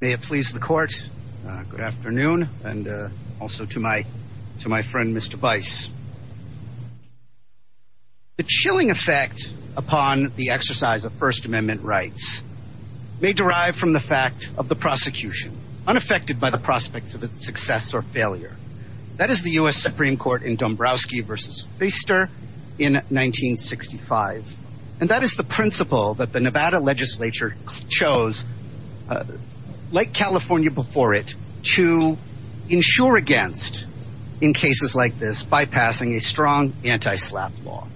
May it please the court, good afternoon and also to my to my friend Mr. Bice. The chilling effect upon the exercise of first amendment rights may derive from the fact of the prosecution unaffected by the prospects of its success or failure. That is the U.S. Supreme Court in Dombrowski v. Feister in 1965 and that is the principle that the Nevada legislature chose like California before it to insure against in cases like this by passing a strong anti-slap law.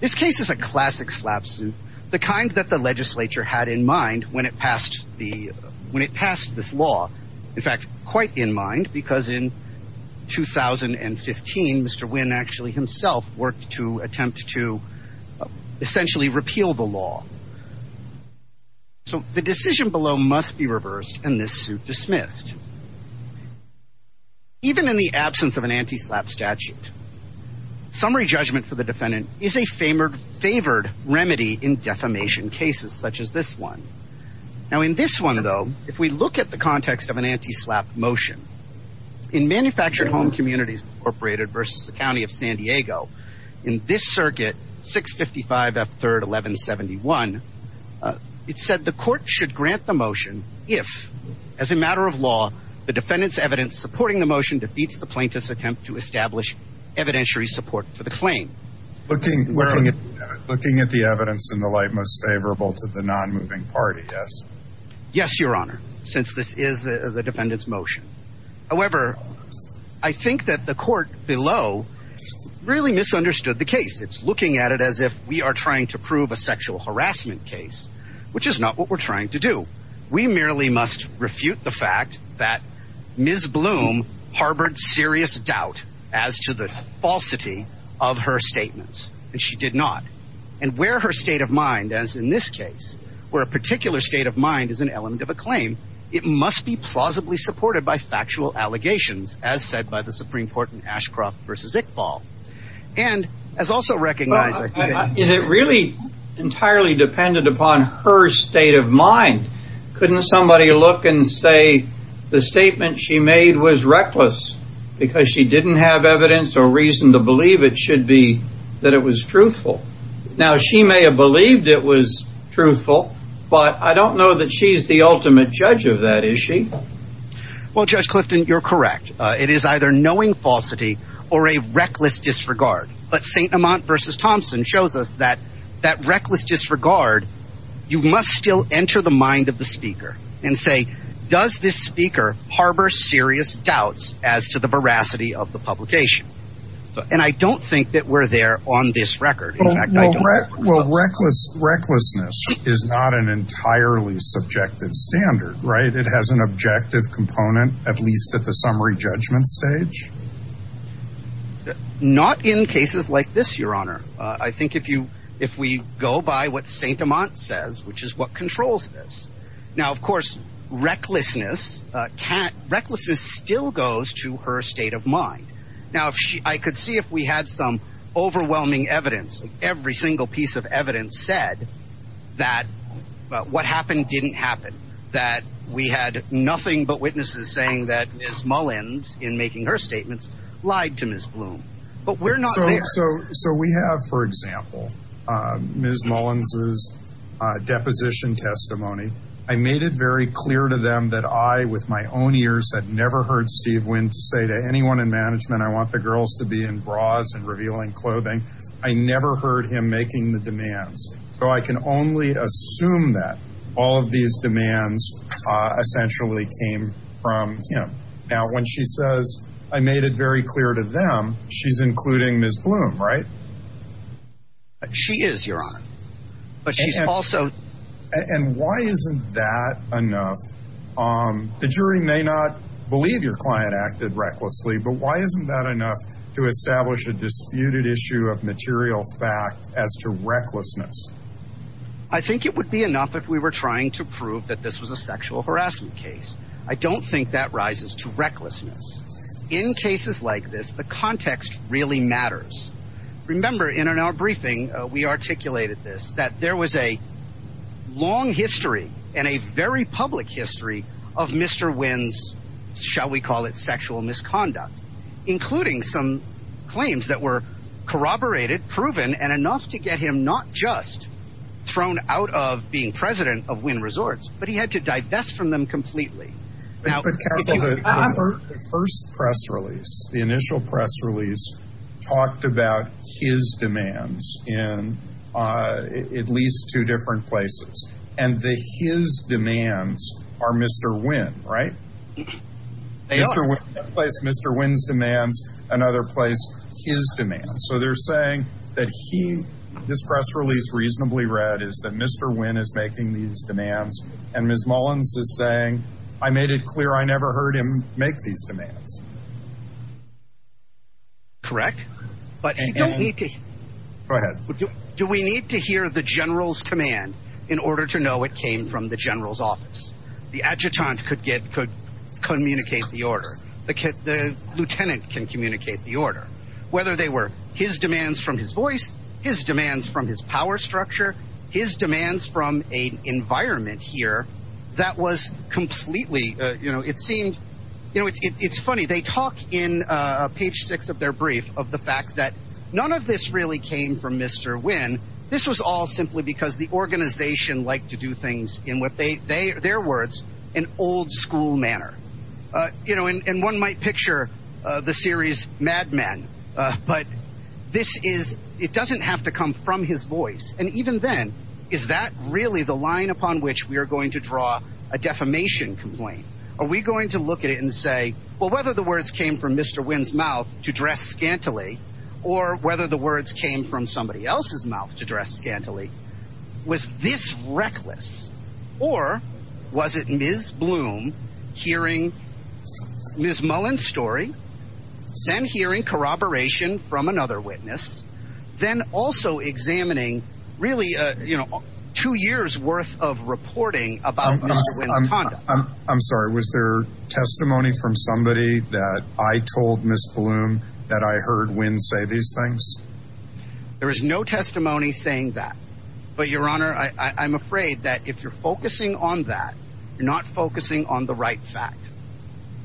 This case is a classic slap suit the kind that the legislature had in mind when it passed the when it passed this law. In fact quite in mind because in 2015 Mr. Wynn actually himself worked to attempt to essentially repeal the law. So the decision below must be reversed and this suit dismissed. Even in the absence of an anti-slap statute summary judgment for the defendant is a favored remedy in defamation cases such as this one. Now in this one though if we look at the context of an anti-slap motion in manufactured home communities incorporated versus the county of San Diego in this circuit 655 F 3rd 1171 it said the court should grant the motion if as a matter of law the defendant's evidence supporting the motion defeats the plaintiff's attempt to establish evidentiary support for the claim. Looking at the evidence in the light most favorable to the non-moving party yes. Yes your honor since this is the defendant's motion. However I think that the court below really misunderstood the case. It's looking at it as if we are trying to prove a sexual harassment case which is not what we're trying to do. We merely must refute the fact that Ms. Bloom harbored serious doubt as to the falsity of her statements and she did not. And where her state of mind as in this case where a particular state of mind is an element of a claim it must be plausibly supported by factual allegations as said by the Supreme Court in Ashcroft versus Iqbal. And as also recognized. Is it really entirely dependent upon her state of mind? Couldn't somebody look and say the statement she made was reckless because she didn't have evidence or reason to believe it should be that it was truthful. Now she may have believed it was truthful but I don't know that she's the ultimate judge of that issue. Well Judge Clifton you're correct. It is either knowing falsity or a reckless disregard. But St. Amant versus Thompson shows us that that reckless disregard you must still enter the mind of the speaker and say does this speaker harbor serious doubts as to veracity of the publication. And I don't think that we're there on this record. Well recklessness is not an entirely subjective standard right. It has an objective component at least at the summary judgment stage. Not in cases like this your honor. I think if we go by what St. Amant says which is what controls this. Now of course recklessness still goes to her state of mind. Now I could see if we had some overwhelming evidence. Every single piece of evidence said that what happened didn't happen. That we had nothing but witnesses saying that Ms. Mullins in making her statements lied to Ms. Bloom. But we're not there. So we have for example Ms. Mullins's deposition testimony. I made it very clear to them that I with my own ears had never heard Steve Wynn to say to anyone in management I want the girls to be in bras and revealing clothing. I never heard him making the demands. So I can only assume that all of these demands essentially came from him. Now when she says I made it very clear to them she's including Ms. Bloom right? She is your honor. But she's also... And why isn't that enough? The jury may not believe your client acted recklessly but why isn't that enough to establish a disputed issue of material fact as to recklessness? I think it would be enough if we were trying to prove that this was a sexual harassment case. I don't think that rises to recklessness. In cases like this the context really matters. Remember in our briefing we articulated this that there was a long history and a very public history of Mr. Wynn's shall we call it sexual misconduct. Including some claims that were corroborated proven and enough to get him not just thrown out of being president of Wynn Resorts. But he had to divest from them completely. But counsel the first press release the initial press release talked about his demands in at least two different places. And the his demands are Mr. Wynn right? They are. One place Mr. Wynn's demands another place his demands. So they're saying that he this press release reasonably read is that Mr. Wynn is making these demands and Ms. Mullins is saying I made it clear I never heard him make these demands. Correct but you don't need to go ahead. Do we need to hear the general's command in order to know it came from the general's office? The adjutant could get could communicate the order. The lieutenant can communicate the order. Whether they were his demands from his voice, his demands from his power structure, his demands from a environment here that was completely you know it seemed you know it's funny they talk in page six of their brief of the fact that none of this really came from Mr. Wynn. This was all simply because the organization liked to do things in what they their words an old school manner. You know and one might picture the series Mad Men but this is it doesn't have to come from his voice and even then is that really the line upon which we are going to draw a defamation complaint? Are we going to look at it and say well whether the words came from Mr. Wynn's mouth to dress scantily or whether the words came from somebody else's mouth to dress scantily was this reckless or was it Ms. Bloom hearing Ms. Mullen's story then hearing corroboration from another witness then also examining really uh you know two years worth of reporting about this. I'm sorry was there testimony from somebody that I told Ms. Bloom that I heard Wynn say these things? There is no testimony saying that but your honor I I'm afraid that if you're focusing on that you're not focusing on the right fact.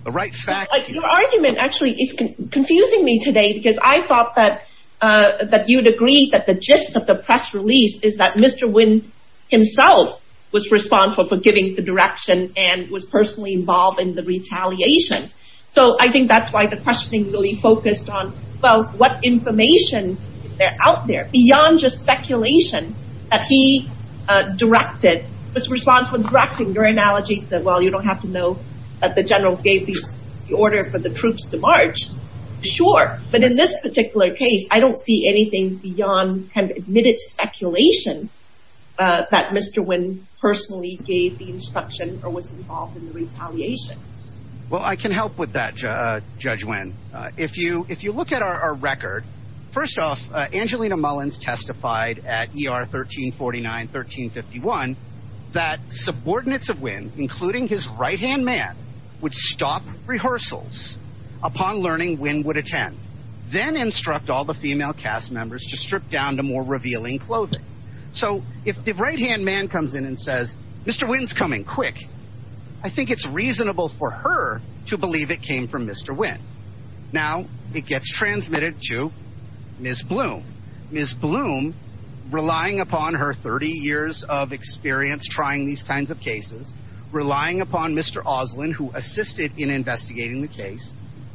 The right fact. Your argument actually is confusing me today because I thought that uh that you'd agree that the gist of the press release is that Mr. Wynn himself was responsible for giving the direction and was personally involved in the retaliation. So I think that's why the questioning really focused on well what information is there out there beyond just speculation that he uh directed was responsible for directing your analogies that well you don't have to know that the general gave the order for the troops to march sure but in this particular case I don't see anything beyond kind of admitted speculation uh that Mr. Wynn personally gave the instruction or was involved in the retaliation. Well I can help with that uh Judge Wynn uh if you if you look at our record first off uh Angelina Mullins testified at ER 1349-1351 that subordinates of Wynn including his right-hand man would stop rehearsals upon learning Wynn would attend then instruct all the female cast members to strip down to more revealing clothing. So if the right-hand man comes in and says Mr. Wynn's coming quick I think it's reasonable for her to believe it came from Mr. Wynn. Now it gets transmitted to Ms. Bloom. Ms. Bloom relying upon her 30 years of relying upon Mr. Oslin who assisted in investigating the case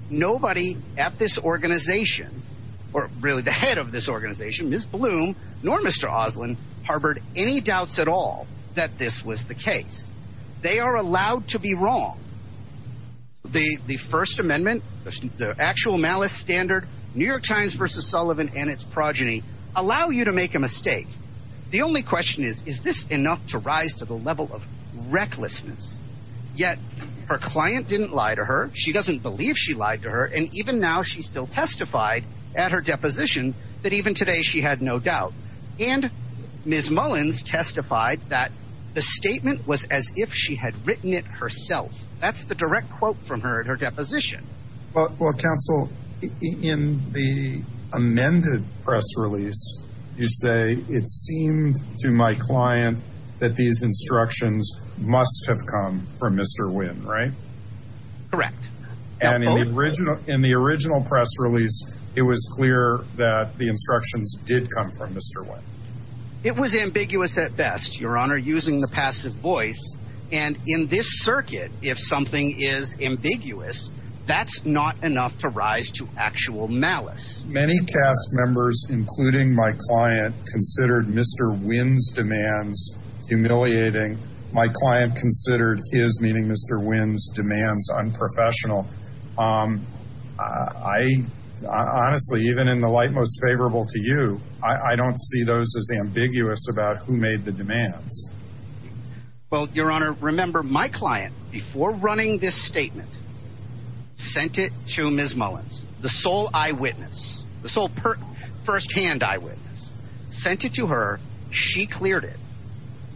nobody at this organization or really the head of this organization Ms. Bloom nor Mr. Oslin harbored any doubts at all that this was the case. They are allowed to be wrong. The the first amendment the actual malice standard New York Times versus Sullivan and its progeny allow you to make a mistake. The only question is is this enough to rise to the level of recklessness yet her client didn't lie to her she doesn't believe she lied to her and even now she still testified at her deposition that even today she had no doubt and Ms. Mullins testified that the statement was as if she had written it herself. That's the direct quote from her at her deposition. Well counsel in the seemed to my client that these instructions must have come from Mr. Wynn right? Correct. And in the original in the original press release it was clear that the instructions did come from Mr. Wynn. It was ambiguous at best your honor using the passive voice and in this circuit if something is ambiguous that's not enough to rise to actual malice. Many cast members including my client considered Mr. Wynn's demands humiliating. My client considered his meeting Mr. Wynn's demands unprofessional. I honestly even in the light most favorable to you I don't see those as ambiguous about who made the demands. Well your honor remember my client before running this statement sent it to Ms. Mullins the sole eyewitness the sole first-hand eyewitness sent it to her she cleared it.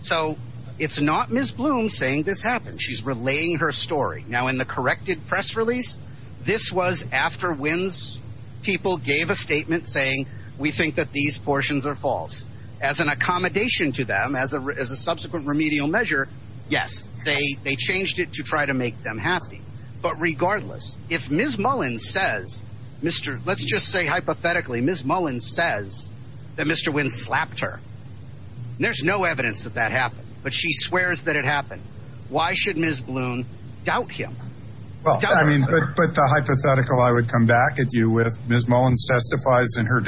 So it's not Ms. Bloom saying this happened she's relaying her story. Now in the corrected press release this was after Wynn's people gave a statement saying we think that these portions are false. As an accommodation to them as a as a subsequent remedial measure yes they they changed it to try to make them happy. But regardless if Ms. Mullins says Mr. let's just say hypothetically Ms. Mullins says that Mr. Wynn slapped her there's no evidence that that happened but she swears that it happened. Why should Ms. Bloom doubt him? Well I mean but but the hypothetical I would come back at you with Ms. Mullins testifies in her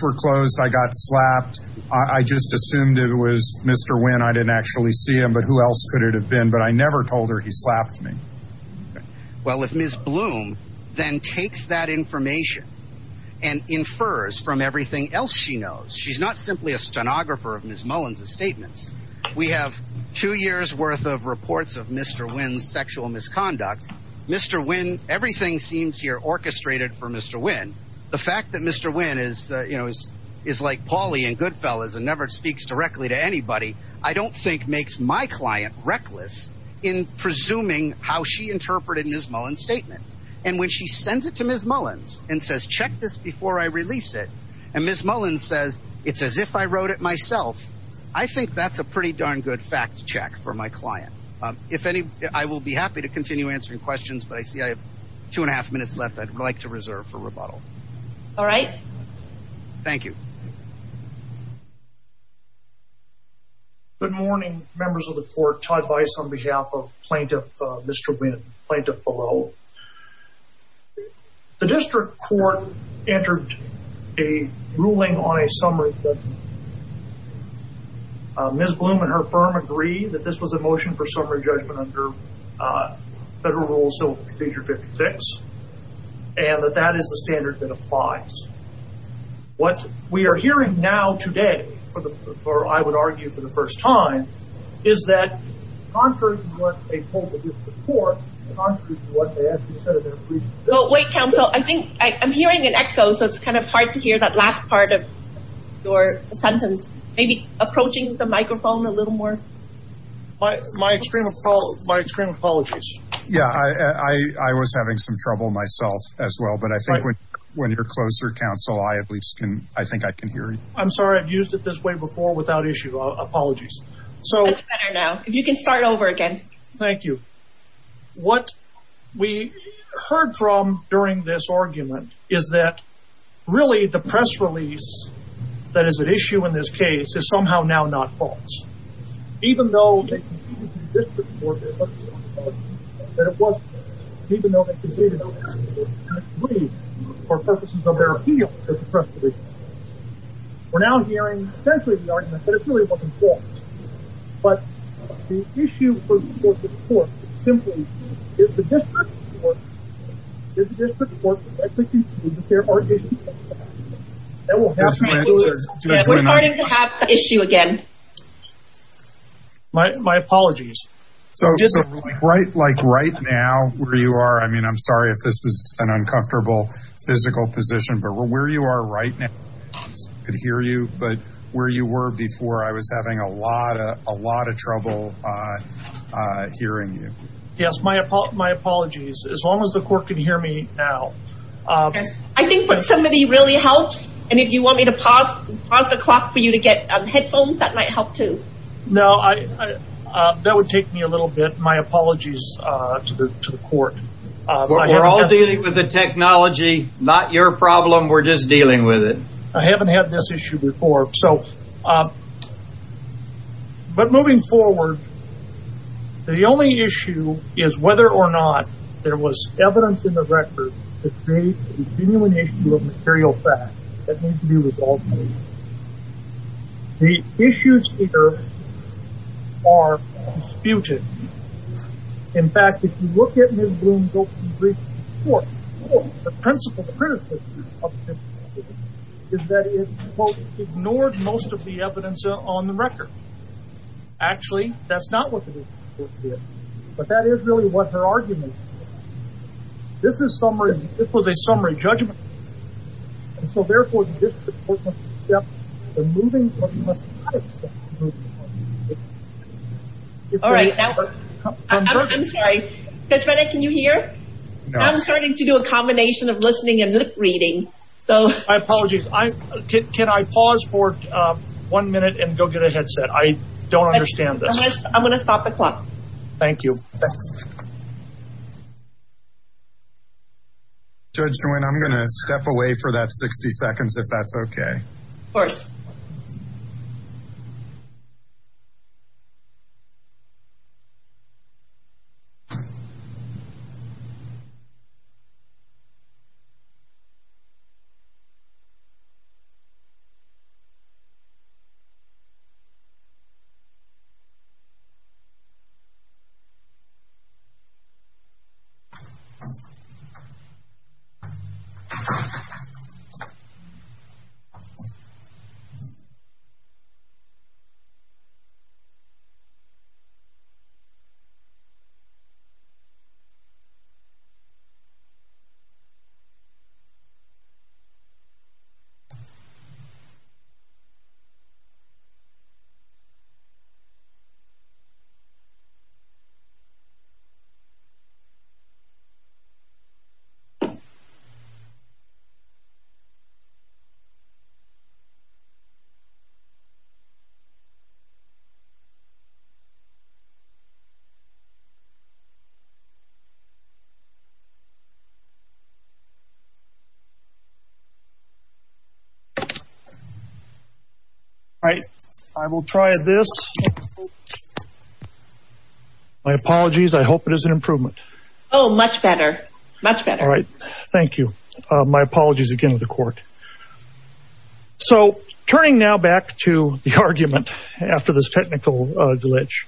closed I got slapped I just assumed it was Mr. Wynn I didn't actually see him but who else could it have been but I never told her he slapped me. Well if Ms. Bloom then takes that information and infers from everything else she knows she's not simply a stenographer of Ms. Mullins's statements. We have two years worth of reports of Mr. Wynn's sexual misconduct Mr. Wynn everything seems here orchestrated for Mr. Wynn. The fact that Mr. Wynn is you know is is like Paulie and Goodfellas and never speaks directly to anybody I don't think makes my client reckless in presuming how she interpreted Ms. Mullins statement. And when she sends it to Ms. Mullins and says check this before I release it and Ms. Mullins says it's as if I wrote it myself I think that's a pretty darn good fact check for my client. If any I will be happy to continue answering questions but I see two and a half minutes left I'd like to reserve for rebuttal. All right. Thank you. Good morning members of the court Todd Weiss on behalf of plaintiff Mr. Wynn plaintiff below. The district court entered a ruling on a summary that Ms. Bloom and her firm agree that this was a motion for summary judgment under federal rules of procedure 56 and that that is the standard that applies. What we are hearing now today for the or I would argue for the first time is that contrary to what they told the district court contrary to what they actually said in their brief. Wait counsel I think I'm hearing an echo so it's kind of hard to hear that last part of your sentence maybe approaching the microphone a little more. My extreme apologies. Yeah I was having some trouble myself as well but I think when you're closer counsel I at least can I think I can hear you. I'm sorry I've used it this way before without issue apologies. That's better now if you can start over again. Thank you. What we heard from during this argument is that really the press release that is an issue in this case is somehow now not false. Even though we're now hearing essentially the argument that it really wasn't false but the issue for the court simply is the district court is the district court therefore we're starting to have the issue again. My apologies. So right like right now where you are I mean I'm sorry if this is an uncomfortable physical position but where you are right now I could hear you but where you were before I was having a lot of a lot of trouble hearing you. Yes my apologies as long as the court can hear me now. I think what somebody really helps and if you want me to pause the clock for you to get headphones that might help too. No I that would take me a little bit my apologies to the court. We're all dealing with the technology not your problem we're just dealing with it. I haven't had this issue before so but moving forward the only issue is whether or not there was evidence in the record to create a genuine issue of material fact that needs to be resolved. The issues here are disputed. In fact if you look at Ms. Bloom's brief report the principle criticism of this is that it quote ignored most of the evidence on the record. Actually that's not what the court did but that is really what her argument this is summary this was a summary judgment and so therefore the district court must accept the moving but must not accept the moving. All right now I'm sorry Judge Bennett can you hear I'm starting to do a combination of listening and lip reading. So my apologies I can I pause for one minute and go get a headset I don't understand this. I'm going to stop the clock. Thank you. Judge Nguyen I'm going to step away for that 60 seconds if that's okay. All right I will try this. My apologies I hope it is an improvement. Oh much better much better. All right thank you my apologies again to the court. So turning now back to the argument after this technical glitch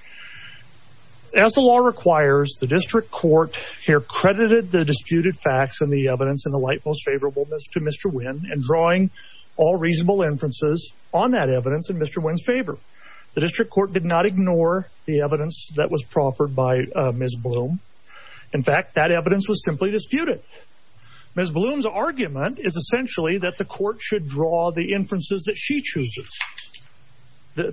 as the law requires the district court here credited the disputed facts and the evidence in the light most favorable to Mr. Nguyen and drawing all reasonable inferences on that evidence in Mr. Nguyen's favor. The district court did not ignore the evidence that was proffered by Ms. Bloom. In fact that evidence was simply disputed. Ms. Bloom's argument is essentially that the court should draw the inferences that she chooses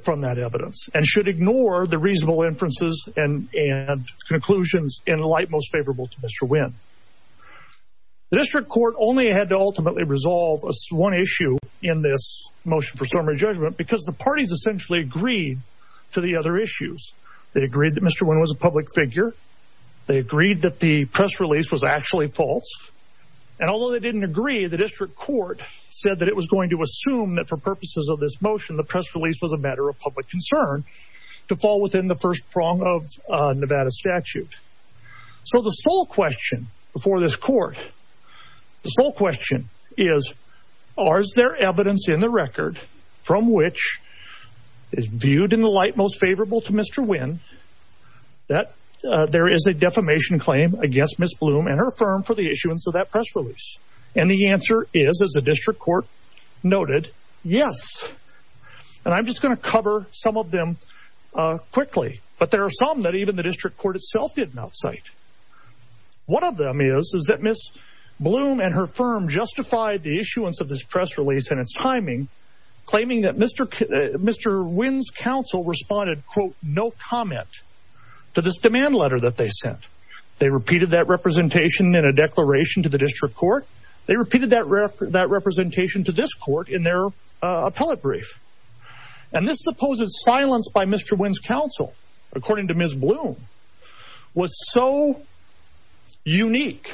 from that evidence and should ignore the reasonable inferences and and conclusions in light most favorable to Mr. Nguyen. The district court only had to ultimately resolve one issue in this motion for summary judgment because the parties essentially agreed to the other issues. They agreed that Mr. Nguyen was a public figure. They agreed that the press release was actually false and although they didn't agree the district court said that it was going to assume that for purposes of this motion the press release was a matter of public concern to fall within the first prong of Nevada statute. So the sole question before this court the sole question is are there evidence in the record from which is viewed in the light most favorable to Mr. Nguyen that there is a defamation claim against Ms. Bloom and her firm for the issuance of that press release and the answer is as the district court noted yes and I'm just going to cover some of them quickly but there are some that even the district court itself did not cite. One of them is is that Ms. Bloom and her firm justified the issuance of this press release and its timing claiming that Mr. Nguyen's counsel responded quote no comment to this demand letter that they sent. They repeated that representation in a declaration to the district court. They repeated that rep that representation to this court in their uh appellate brief and this supposes silence by Mr. Nguyen's counsel according to Ms. Bloom was so unique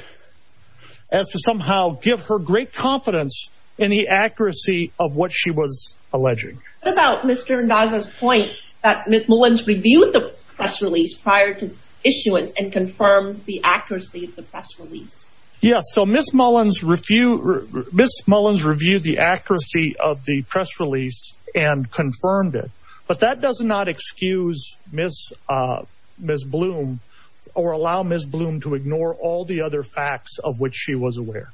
as to somehow give her great confidence in the accuracy of what she was alleging. What about Mr. Ndaga's point that Ms. Mullins reviewed the press release prior to issuance and confirmed the accuracy of the press release? Yes so Ms. Mullins reviewed Ms. Mullins reviewed the accuracy of the press release and confirmed it but that does not excuse Ms. uh Ms. Bloom or allow Ms. Bloom to ignore all the other facts of which she was aware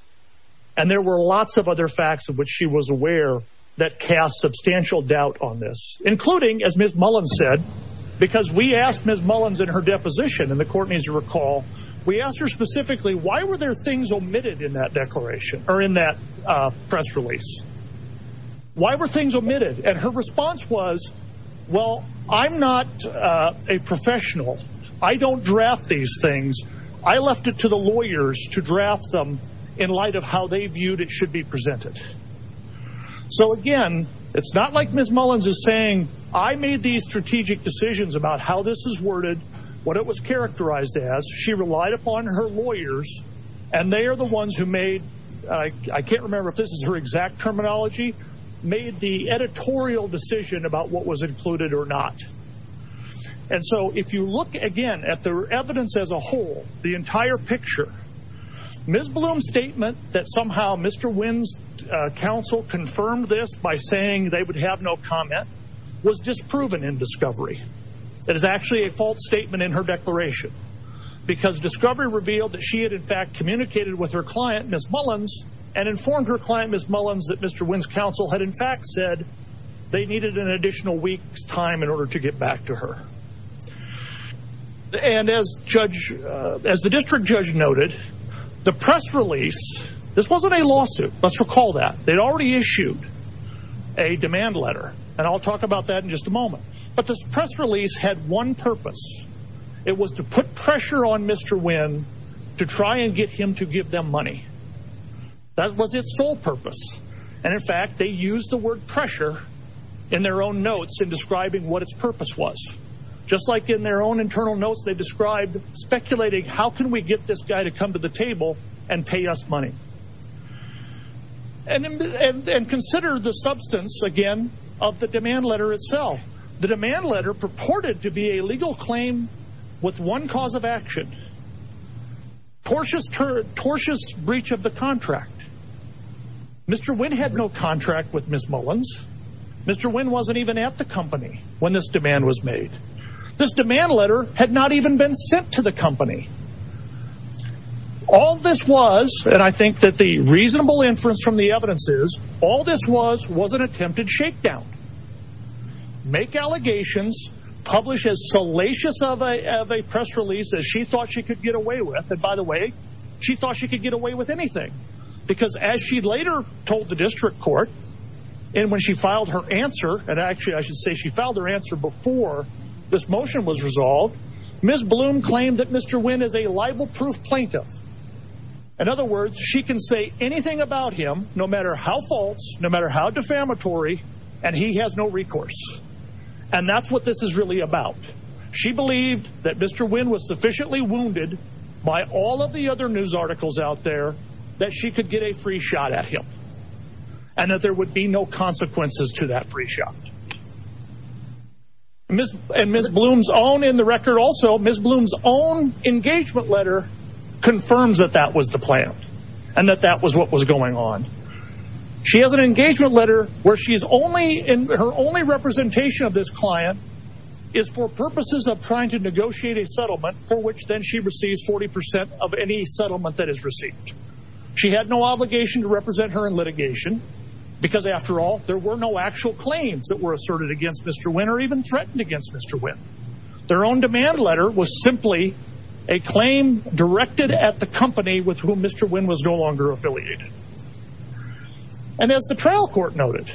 and there were lots of other facts of which she was aware that cast substantial doubt on this including as Ms. Mullins said because we asked Ms. Mullins in her deposition in the court as you recall we asked her specifically why were there things omitted in that declaration or that press release why were things omitted and her response was well I'm not a professional I don't draft these things I left it to the lawyers to draft them in light of how they viewed it should be presented so again it's not like Ms. Mullins is saying I made these strategic decisions about how this is worded what it was characterized as she relied upon her lawyers and they are the ones who made I can't remember if this is her exact terminology made the editorial decision about what was included or not and so if you look again at the evidence as a whole the entire picture Ms. Bloom's statement that somehow Mr. Wynn's counsel confirmed this by saying they would have no comment was disproven in discovery that is fact communicated with her client Ms. Mullins and informed her client Ms. Mullins that Mr. Wynn's counsel had in fact said they needed an additional week's time in order to get back to her and as judge as the district judge noted the press release this wasn't a lawsuit let's recall that they'd already issued a demand letter and I'll talk about that in just a moment but this press pressure on Mr. Wynn to try and get him to give them money that was its sole purpose and in fact they used the word pressure in their own notes in describing what its purpose was just like in their own internal notes they described speculating how can we get this guy to come to the table and pay us money and and consider the substance again of the demand letter itself the demand of action tortuous tortuous breach of the contract Mr. Wynn had no contract with Ms. Mullins Mr. Wynn wasn't even at the company when this demand was made this demand letter had not even been sent to the company all this was and I think that the reasonable inference from the evidence is all this was was an attempted shakedown make allegations publish as salacious of a of a press release as she thought she could get away with and by the way she thought she could get away with anything because as she later told the district court and when she filed her answer and actually I should say she filed her answer before this motion was resolved Ms. Bloom claimed that Mr. Wynn is a libel-proof plaintiff in other words she can say anything about him no matter how false no matter how defamatory and he has no recourse and that's what this is really about she believed that Mr. Wynn was sufficiently wounded by all of the other news articles out there that she could get a free shot at him and that there would be no consequences to that free shot Miss and Miss Bloom's own in the record also Miss Bloom's own engagement letter confirms that that was the plan and that that was what was going on she has an engagement letter where she's only in her only representation of this client is for purposes of trying to negotiate a settlement for which then she receives 40 of any settlement that is received she had no obligation to represent her in litigation because after all there were no actual claims that were asserted against Mr. Wynn or even threatened against Mr. Wynn their own demand letter was simply a claim directed at the company with whom Mr. Wynn was no longer affiliated and as the trial court noted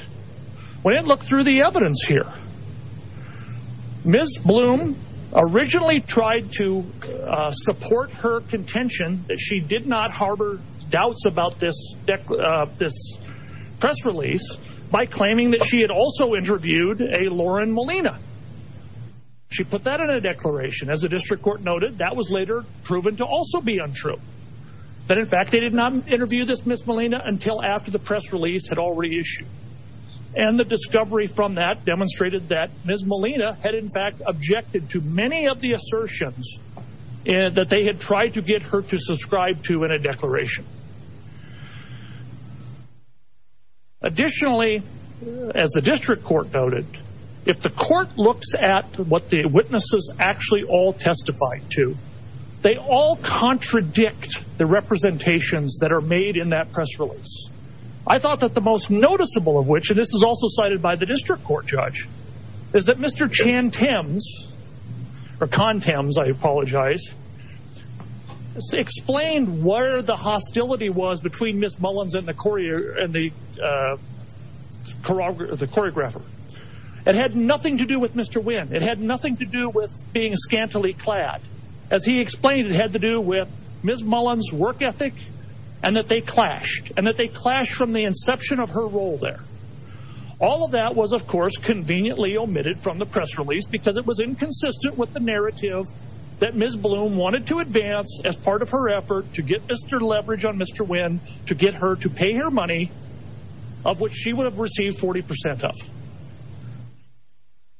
when it looked through the evidence here Miss Bloom originally tried to support her contention that she did not harbor doubts about this this press release by claiming that she had also interviewed a Lauren Molina she put that in a declaration as the district court noted that was later proven to also be untrue that in fact they did not interview this Miss Molina until after the press release had reissued and the discovery from that demonstrated that Miss Molina had in fact objected to many of the assertions and that they had tried to get her to subscribe to in a declaration additionally as the district court noted if the court looks at what the witnesses actually all testify to they all contradict the representations that are made in that press release I thought that the most noticeable of which this is also cited by the district court judge is that Mr. Chan Thames or Con Thames I apologize explained where the hostility was between Miss Mullins and the choreographer it had nothing to do with Mr. Wynn it had nothing to do with being scantily clad as he explained it and that they clashed and that they clashed from the inception of her role there all of that was of course conveniently omitted from the press release because it was inconsistent with the narrative that Ms. Bloom wanted to advance as part of her effort to get Mr. Leverage on Mr. Wynn to get her to pay her money of which she would have received 40 percent of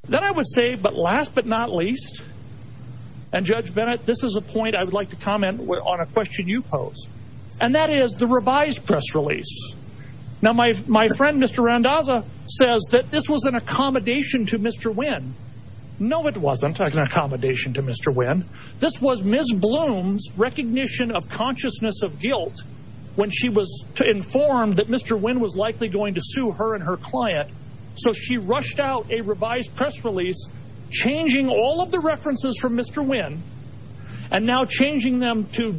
then I would say but last but not least and Judge Bennett this is a point I would like comment on a question you pose and that is the revised press release now my friend Mr. Randazza says that this was an accommodation to Mr. Wynn no it wasn't an accommodation to Mr. Wynn this was Ms. Bloom's recognition of consciousness of guilt when she was informed that Mr. Wynn was likely going to sue her and her client so she rushed out a revised press release changing all of the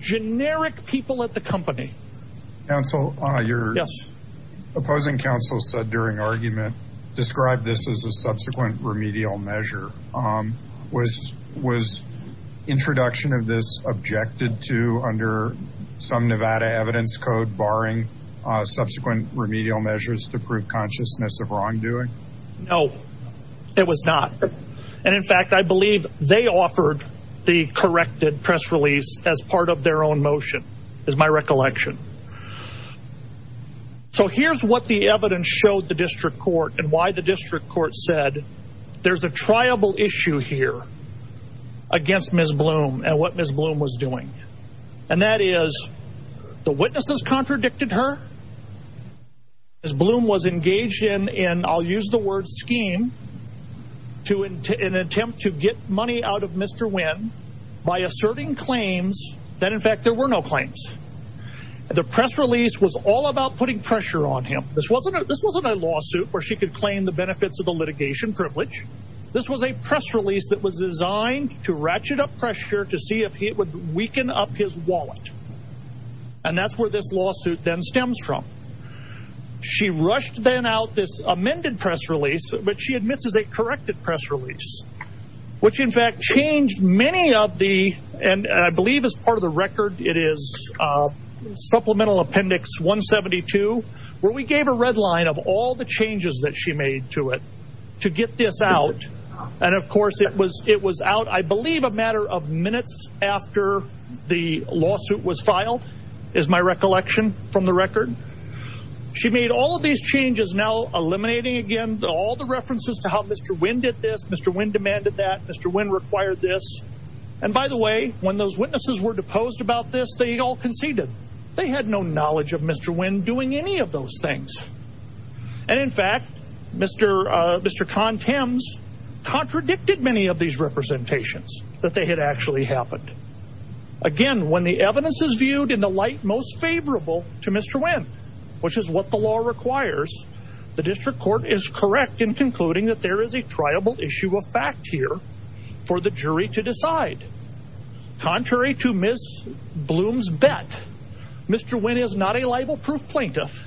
generic people at the company counsel uh you're opposing counsel said during argument described this as a subsequent remedial measure um was was introduction of this objected to under some Nevada evidence code barring uh subsequent remedial measures to prove consciousness of wrongdoing no it was not and in fact I believe they offered the corrected press release as part of their own motion is my recollection so here's what the evidence showed the district court and why the district court said there's a triable issue here against Ms. Bloom and what Ms. Bloom was doing and that is the witnesses contradicted her as Bloom was engaged in in I'll use the word scheme to an attempt to get money out of Mr. Wynn by asserting claims that in fact there were no claims the press release was all about putting pressure on him this wasn't this wasn't a lawsuit where she could claim the benefits of the litigation privilege this was a press release that was designed to ratchet up pressure to see if he would weaken up his wallet and that's where this lawsuit then stems from she rushed then out this amended press release but she admits is a corrected press release which in fact changed many of the and I believe as part of the record it is uh supplemental appendix 172 where we gave a red line of all the changes that she made to it to get this out and of course it was it was out I the lawsuit was filed is my recollection from the record she made all of these changes now eliminating again all the references to how Mr. Wynn did this Mr. Wynn demanded that Mr. Wynn required this and by the way when those witnesses were deposed about this they all conceded they had no knowledge of Mr. Wynn doing any of those things and in fact Mr. uh Mr. Con that they had actually happened again when the evidence is viewed in the light most favorable to Mr. Wynn which is what the law requires the district court is correct in concluding that there is a triable issue of fact here for the jury to decide contrary to Miss Bloom's bet Mr. Wynn is not a libel-proof plaintiff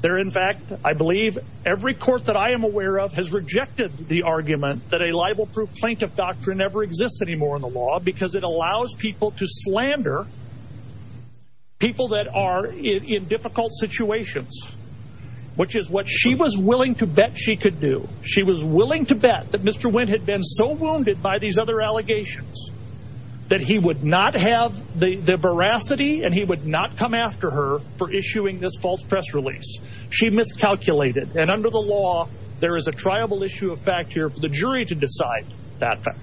there in fact I believe every court that I am aware of has rejected the ever exists anymore in the law because it allows people to slander people that are in difficult situations which is what she was willing to bet she could do she was willing to bet that Mr. Wynn had been so wounded by these other allegations that he would not have the the veracity and he would not come after her for issuing this false press release she miscalculated and under the law there is a triable issue of fact here for the jury to decide that fact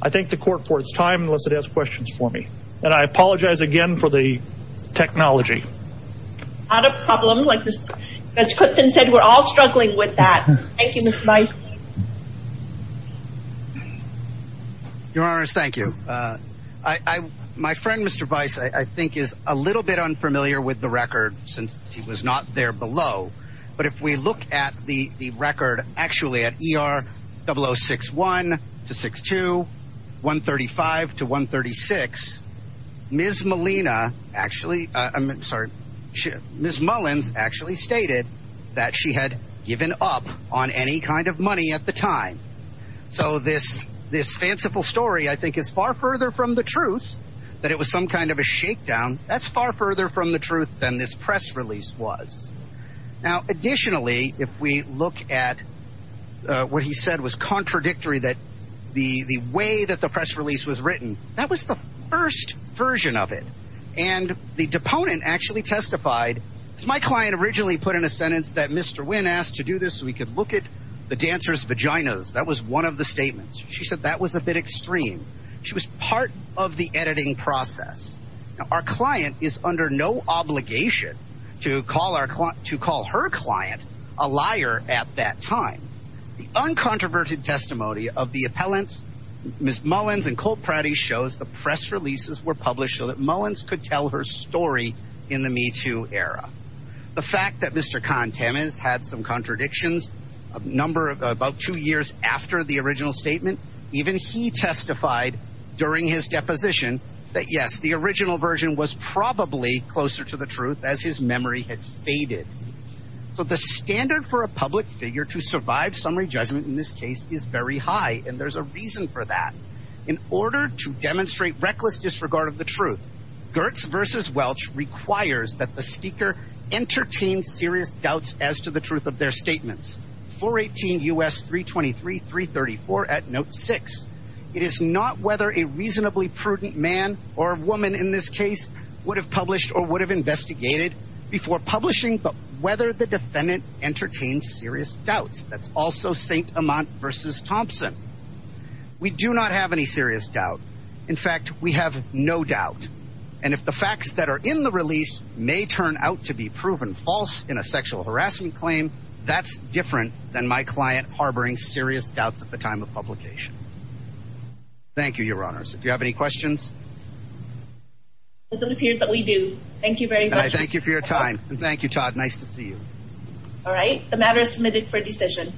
I thank the court for its time unless it has questions for me and I apologize again for the technology not a problem like this Judge Clifton said we're all struggling with that thank you Mr. Vice your honors thank you uh I I my friend Mr. Vice I think is a little bit unfamiliar with the record since he was not there below but if we look at the the record actually at ER 0061 to 62 135 to 136 Ms. Molina actually I'm sorry she Ms. Mullins actually stated that she had given up on any kind of money at the time so this this fanciful story I think is far further from the truth that it was some kind of a shakedown that's far further from the truth than this press release was now additionally if we look at what he said was contradictory that the the way that the press release was written that was the first version of it and the deponent actually testified as my client originally put in a sentence that Mr. Wynn asked to do this we could look at the dancer's vaginas that was one of the statements she said that was a bit extreme she was part of the editing process our client is under no obligation to call our client to call her client a liar at that time the uncontroverted testimony of the appellants Ms. Mullins and Colt Pratty shows the press releases were published so that Mullins could tell her story in the Me Too era the fact that Mr. Kahn Tammins had some contradictions a number of about two years after the original statement even he testified during his deposition that yes the original version was probably closer to the truth as his memory had faded so the standard for a public figure to survive summary judgment in this case is very high and there's a reason for that in order to demonstrate reckless disregard of the truth Gertz versus Welch requires that the speaker entertain serious doubts as to the truth of their statements 418 U.S. 323 334 at note 6 it is not whether a reasonably prudent man or a woman in this case would have published or would have investigated before publishing but whether the defendant entertains serious doubts that's also Saint Amant versus Thompson we do not have any serious doubt in fact we have no doubt and if the facts that are in the release may turn out to be proven false in a sexual harassment claim that's different than my client harboring serious doubts at the time of publication thank you your honors if you have any questions it doesn't appear that we do thank you very much thank you for your time and thank you Todd nice to see you all right the matter is submitted for decision